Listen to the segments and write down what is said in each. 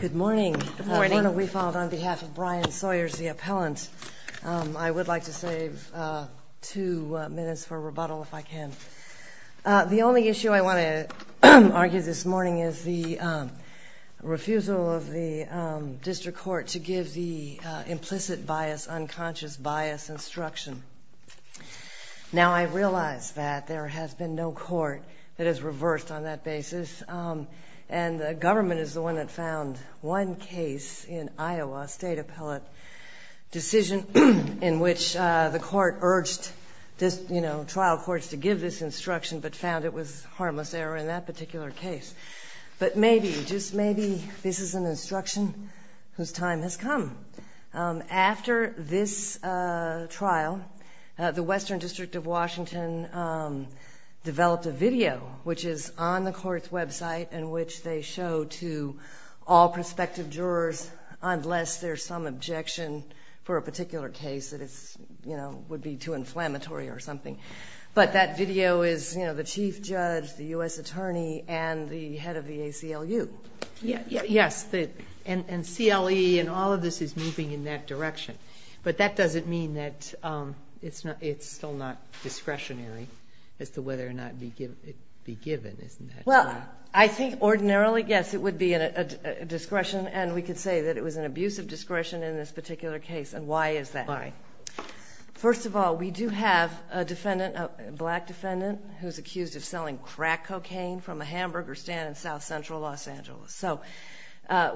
Good morning. Good morning. We followed on behalf of Brian Sawyers, the appellant. I would like to save two minutes for rebuttal, if I can. The only issue I want to argue this morning is the refusal of the district court to give the implicit bias, unconscious bias instruction. Now, I realize that there has been no court that has reversed on that basis, and the government is the one that found one case in Iowa, a state appellate decision in which the court urged trial courts to give this instruction but found it was harmless error in that particular case. But maybe, just maybe, this is an instruction whose time has come. After this trial, the Western District of Washington developed a video, which is on the court's website, in which they show to all prospective jurors, unless there's some objection for a particular case that would be too inflammatory or something. But that video is the chief judge, the U.S. attorney, and the head of the ACLU. Yes, and CLE and all of this is moving in that direction. But that doesn't mean that it's still not discretionary as to whether or not it be given, isn't it? Well, I think ordinarily, yes, it would be a discretion, and we could say that it was an abuse of discretion in this particular case. And why is that? First of all, we do have a defendant, a black defendant, who's accused of selling crack cocaine from a hamburger stand in South Central Los Angeles. So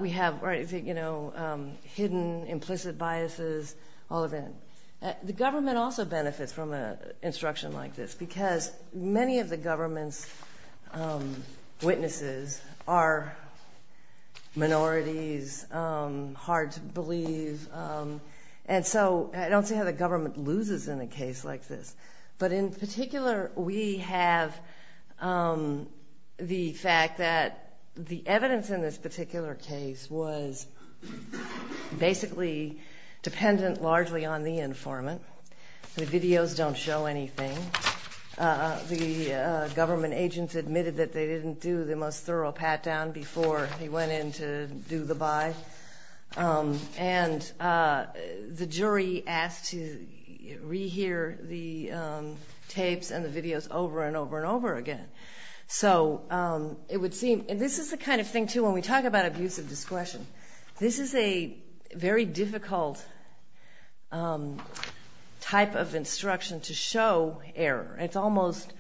we have, you know, hidden implicit biases, all of that. The government also benefits from an instruction like this because many of the government's witnesses are minorities, hard to believe. And so I don't see how the government loses in a case like this. But in particular, we have the fact that the evidence in this particular case was basically dependent largely on the informant. The videos don't show anything. The government agents admitted that they didn't do the most thorough pat-down before he went in to do the buy. And the jury asked to rehear the tapes and the videos over and over and over again. So it would seem, and this is the kind of thing, too, when we talk about abuse of discretion, this is a very difficult type of instruction to show error. It's almost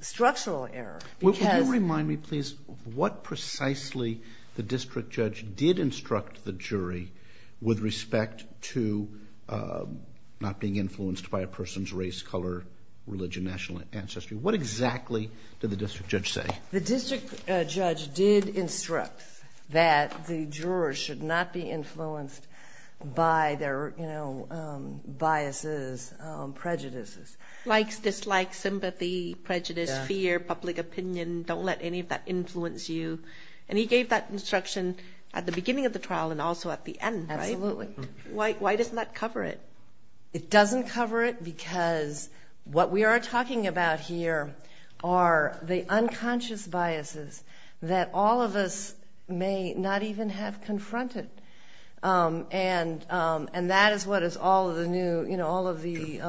structural error. Would you remind me, please, what precisely the district judge did instruct the jury with respect to not being influenced by a person's race, color, religion, national ancestry? What exactly did the district judge say? The district judge did instruct that the jurors should not be influenced by their biases, prejudices. Likes, dislikes, sympathy, prejudice, fear, public opinion. Don't let any of that influence you. And he gave that instruction at the beginning of the trial and also at the end, right? Absolutely. Why doesn't that cover it? It doesn't cover it because what we are talking about here are the unconscious biases that all of us may not even have confronted. And that is what is all of the new, you know, all of the...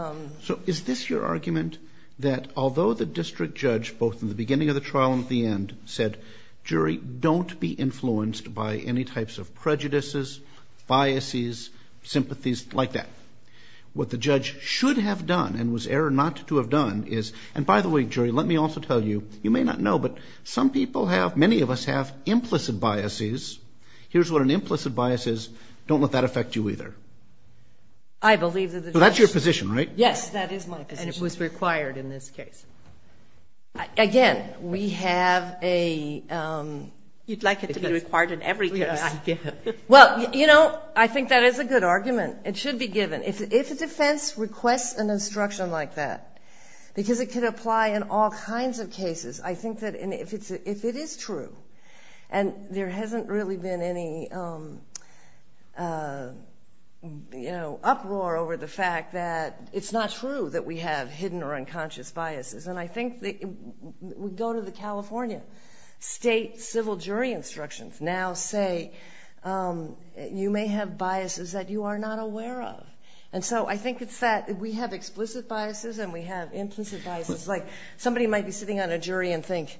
So is this your argument that although the district judge, both in the beginning of the trial and at the end, said, jury, don't be influenced by any types of prejudices, biases, sympathies, like that. What the judge should have done and was error not to have done is, and by the way, jury, let me also tell you, you may not know, but some people have, many of us have implicit biases. Here's what an implicit bias is. Don't let that affect you either. I believe that the judge... That is my position. And it was required in this case. Again, we have a... You'd like it to be required in every case. Well, you know, I think that is a good argument. It should be given. If a defense requests an instruction like that, because it could apply in all kinds of cases, I think that if it is true and there hasn't really been any, you know, it's not true that we have hidden or unconscious biases. And I think we go to the California state civil jury instructions now say, you may have biases that you are not aware of. And so I think it's that we have explicit biases and we have implicit biases. It's like somebody might be sitting on a jury and think,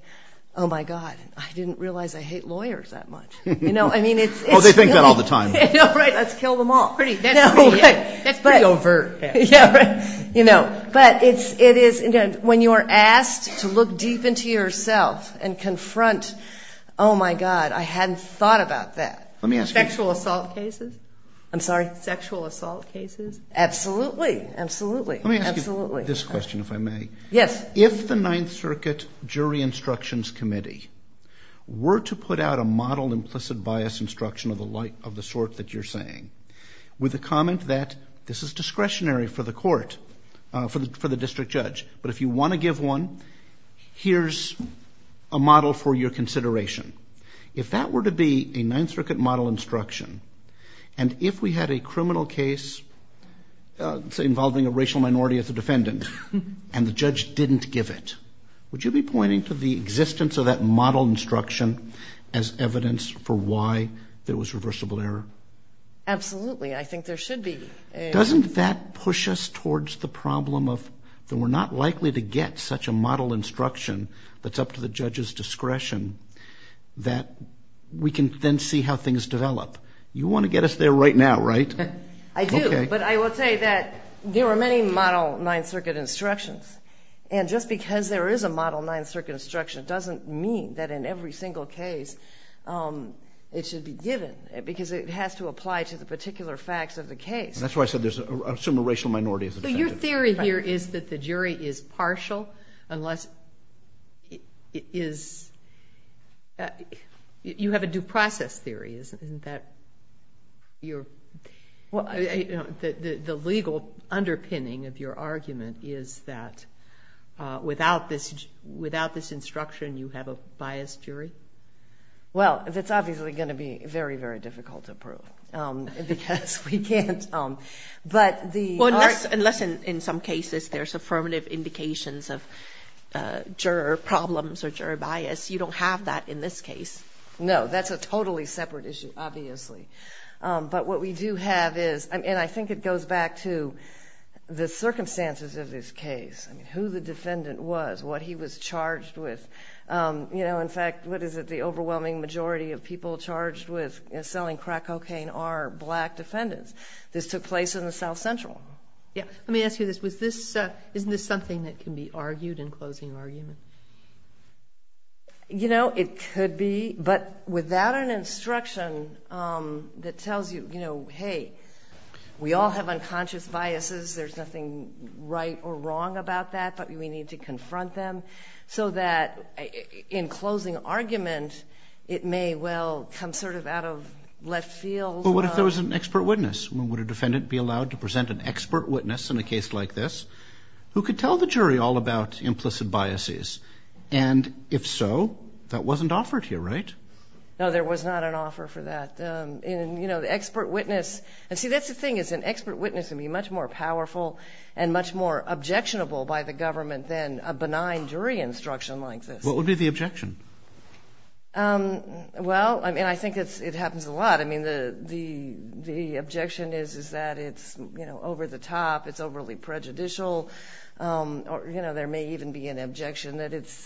oh, my God, I didn't realize I hate lawyers that much. You know, I mean, it's... Oh, they think that all the time. Right, let's kill them all. That's pretty overt. Yeah, right. You know, but it is, again, when you are asked to look deep into yourself and confront, oh, my God, I hadn't thought about that. Let me ask you... Sexual assault cases? I'm sorry? Sexual assault cases? Absolutely. Absolutely. Let me ask you this question, if I may. Yes. If the Ninth Circuit Jury Instructions Committee were to put out a model implicit bias instruction of the sort that you're saying with a comment that this is discretionary for the court, for the district judge, but if you want to give one, here's a model for your consideration. If that were to be a Ninth Circuit model instruction, and if we had a criminal case involving a racial minority as a defendant and the judge didn't give it, would you be pointing to the existence of that model instruction as evidence for why there was reversible error? Absolutely. I think there should be. Doesn't that push us towards the problem of that we're not likely to get such a model instruction that's up to the judge's discretion that we can then see how things develop? You want to get us there right now, right? I do. Okay. But I will say that there are many model Ninth Circuit instructions, and just because there is a model Ninth Circuit instruction doesn't mean that in every single case it should be given because it has to apply to the particular facts of the case. That's why I said there's a similar racial minority as a defendant. Your theory here is that the jury is partial unless it is you have a due process theory. The legal underpinning of your argument is that without this instruction you have a biased jury? Well, that's obviously going to be very, very difficult to prove because we can't. Unless in some cases there's affirmative indications of juror problems or juror bias, you don't have that in this case. No, that's a totally separate issue, obviously. But what we do have is, and I think it goes back to the circumstances of this case, who the defendant was, what he was charged with. In fact, what is it? The overwhelming majority of people charged with selling crack cocaine are black defendants. This took place in the South Central. Let me ask you this. Isn't this something that can be argued in closing argument? You know, it could be, but without an instruction that tells you, you know, hey, we all have unconscious biases, there's nothing right or wrong about that, but we need to confront them so that in closing argument it may well come sort of out of left field. Well, what if there was an expert witness? Would a defendant be allowed to present an expert witness in a case like this who could tell the jury all about implicit biases? And if so, that wasn't offered here, right? No, there was not an offer for that. And, you know, the expert witness, and see that's the thing is an expert witness would be much more powerful and much more objectionable by the government than a benign jury instruction like this. What would be the objection? Well, I mean, I think it happens a lot. I mean, the objection is that it's, you know, over the top, it's overly prejudicial. You know, there may even be an objection that it's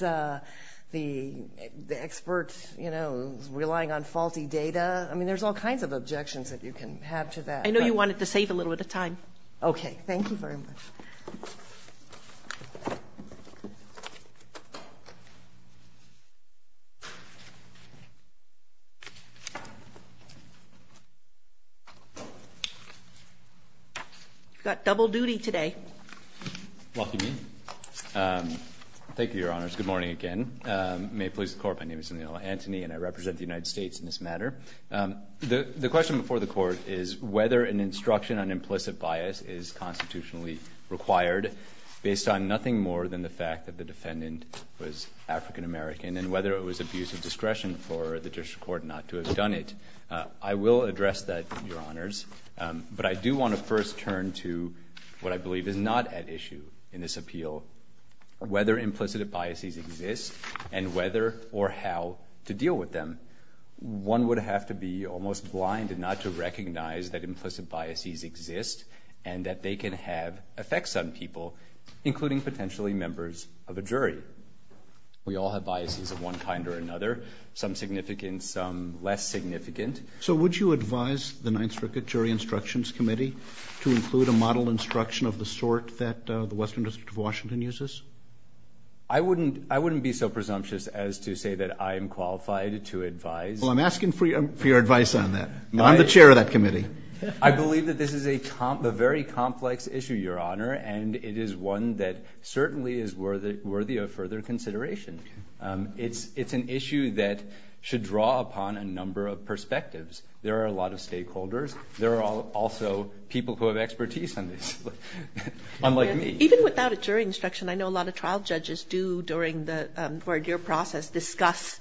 the expert, you know, relying on faulty data. I mean, there's all kinds of objections that you can have to that. I know you wanted to save a little bit of time. Okay. Thank you very much. You've got double duty today. Walk you in. Thank you, Your Honors. Good morning again. May it please the Court. My name is Enola Antony, and I represent the United States in this matter. The question before the Court is whether an instruction on implicit bias is constitutionally required based on nothing more than the fact that the defendant was African-American and whether it was abuse of discretion for the district court not to have done it. I will address that, Your Honors. But I do want to first turn to what I believe is not at issue in this appeal, whether implicit biases exist and whether or how to deal with them. One would have to be almost blind not to recognize that implicit biases exist and that they can have effects on people, including potentially members of a jury. We all have biases of one kind or another, some significant, some less significant. So would you advise the Ninth Circuit Jury Instructions Committee to include a model instruction of the sort that the Western District of Washington uses? I wouldn't be so presumptuous as to say that I am qualified to advise. Well, I'm asking for your advice on that. I'm the chair of that committee. I believe that this is a very complex issue, Your Honor, and it is one that certainly is worthy of further consideration. It's an issue that should draw upon a number of perspectives. There are a lot of stakeholders. There are also people who have expertise on this, unlike me. Even without a jury instruction, I know a lot of trial judges do, during your process, discuss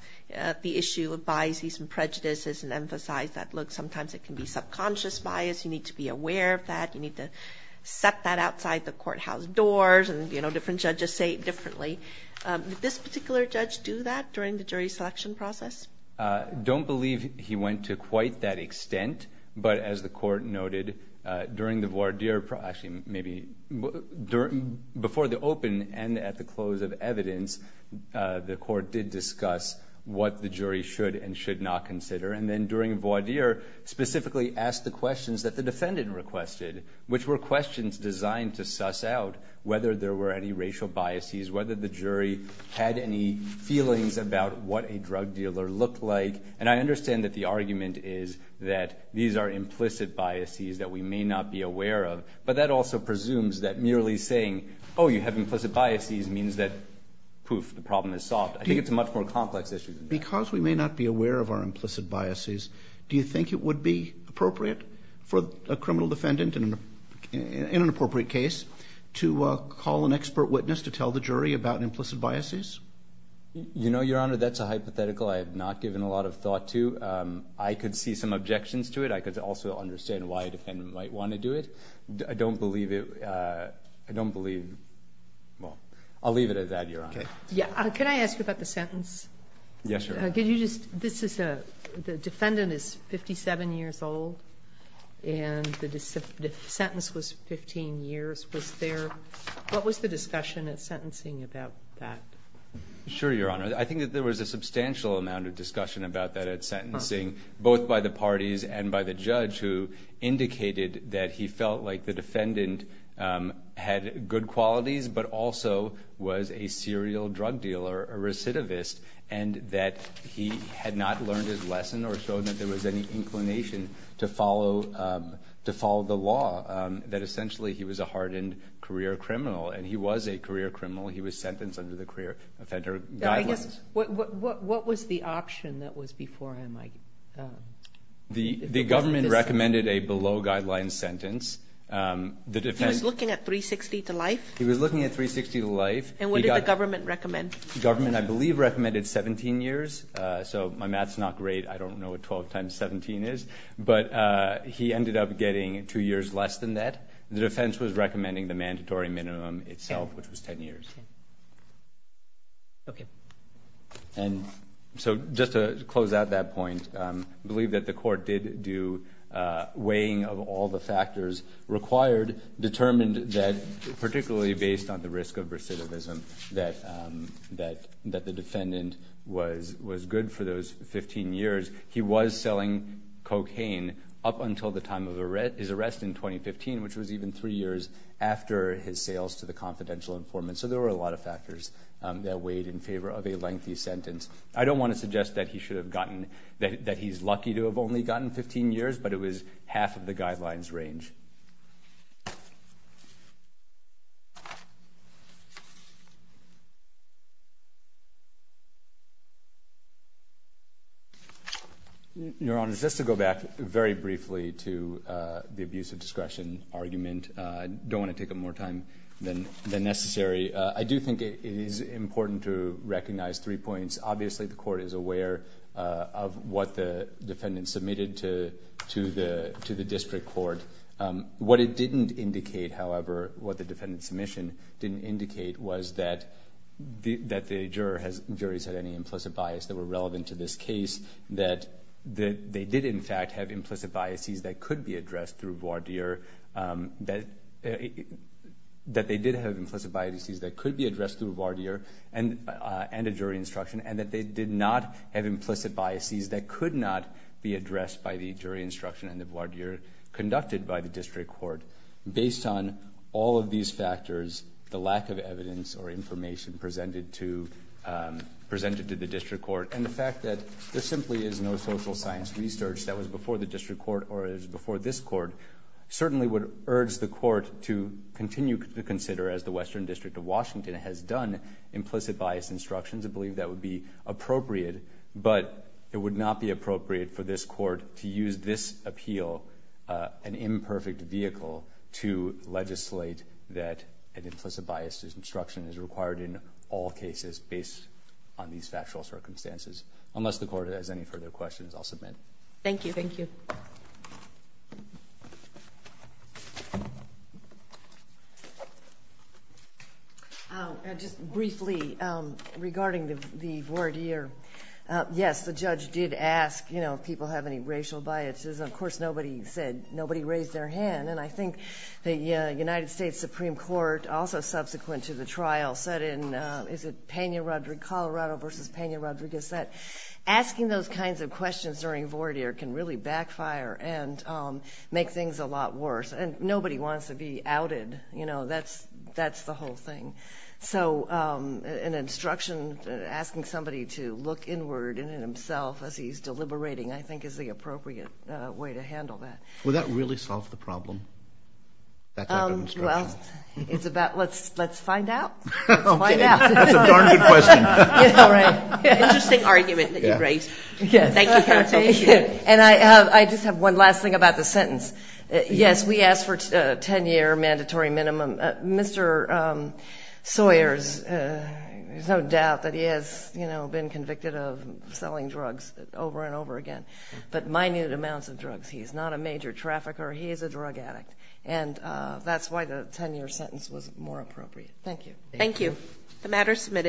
the issue of biases and prejudices and emphasize that, look, sometimes it can be subconscious bias. You need to be aware of that. You need to set that outside the courthouse doors. And, you know, different judges say it differently. Did this particular judge do that during the jury selection process? I don't believe he went to quite that extent. But as the court noted, during the voir dire, actually maybe before the open and at the close of evidence, the court did discuss what the jury should and should not consider. And then during voir dire, specifically ask the questions that the defendant requested, which were questions designed to suss out whether there were any racial biases, whether the jury had any feelings about what a drug dealer looked like. And I understand that the argument is that these are implicit biases that we may not be aware of. But that also presumes that merely saying, oh, you have implicit biases, means that poof, the problem is solved. I think it's a much more complex issue than that. Because we may not be aware of our implicit biases, do you think it would be appropriate for a criminal defendant in an appropriate case to call an expert witness to tell the jury about implicit biases? You know, Your Honor, that's a hypothetical I have not given a lot of thought to. I could see some objections to it. I could also understand why a defendant might want to do it. I don't believe it. I don't believe. I'll leave it at that, Your Honor. Can I ask you about the sentence? Yes, Your Honor. The defendant is 57 years old, and the sentence was 15 years. What was the discussion at sentencing about that? Sure, Your Honor. I think that there was a substantial amount of discussion about that at sentencing, both by the parties and by the judge, who indicated that he felt like the defendant had good qualities but also was a serial drug dealer, a recidivist, and that he had not learned his lesson or shown that there was any inclination to follow the law, that essentially he was a hardened career criminal. And he was a career criminal. He was sentenced under the career offender guidelines. What was the option that was before him? The government recommended a below-guidelines sentence. He was looking at 360 to life? He was looking at 360 to life. And what did the government recommend? The government, I believe, recommended 17 years. So my math is not great. I don't know what 12 times 17 is. But he ended up getting two years less than that. The defense was recommending the mandatory minimum itself, which was 10 years. Okay. And so just to close out that point, I believe that the court did do weighing of all the factors required, and determined that, particularly based on the risk of recidivism, that the defendant was good for those 15 years. He was selling cocaine up until the time of his arrest in 2015, which was even three years after his sales to the confidential informant. So there were a lot of factors that weighed in favor of a lengthy sentence. I don't want to suggest that he's lucky to have only gotten 15 years, but it was half of the guidelines range. Your Honor, just to go back very briefly to the abuse of discretion argument, I don't want to take up more time than necessary. I do think it is important to recognize three points. Obviously, the court is aware of what the defendant submitted to the district court. What it didn't indicate, however, what the defendant's submission didn't indicate, was that the jurors had any implicit bias that were relevant to this case, that they did, in fact, have implicit biases that could be addressed through voir dire, that they did have implicit biases that could be addressed through voir dire, and a jury instruction, and that they did not have implicit biases that could not be addressed by the jury instruction and the voir dire conducted by the district court. Based on all of these factors, the lack of evidence or information presented to the district court, and the fact that there simply is no social science research that was before the district court or is before this court, certainly would urge the court to continue to consider, as the Western District of Washington has done, implicit bias instructions. I believe that would be appropriate, but it would not be appropriate for this court to use this appeal, an imperfect vehicle, to legislate that an implicit bias instruction is required in all cases based on these factual circumstances. Unless the court has any further questions, I'll submit. Thank you. Thank you. Just briefly, regarding the voir dire, yes, the judge did ask, you know, if people have any racial biases. Of course, nobody said, nobody raised their hand, and I think the United States Supreme Court, also subsequent to the trial, said in, is it Pena-Rodriguez, Colorado versus Pena-Rodriguez, that asking those kinds of questions during voir dire can really backfire and make things a lot worse, and nobody wants to be outed, you know, that's the whole thing. So an instruction, asking somebody to look inward and in himself as he's deliberating, I think, is the appropriate way to handle that. Will that really solve the problem, that type of instruction? Well, it's about let's find out. Okay. Let's find out. That's a darn good question. All right. Interesting argument that you raised. Yes. Thank you, counsel. And I just have one last thing about the sentence. Yes, we asked for a 10-year mandatory minimum. Mr. Sawyer, there's no doubt that he has, you know, been convicted of selling drugs over and over again, but minute amounts of drugs. He's not a major trafficker. He is a drug addict, and that's why the 10-year sentence was more appropriate. Thank you. Thank you. The matter is submitted.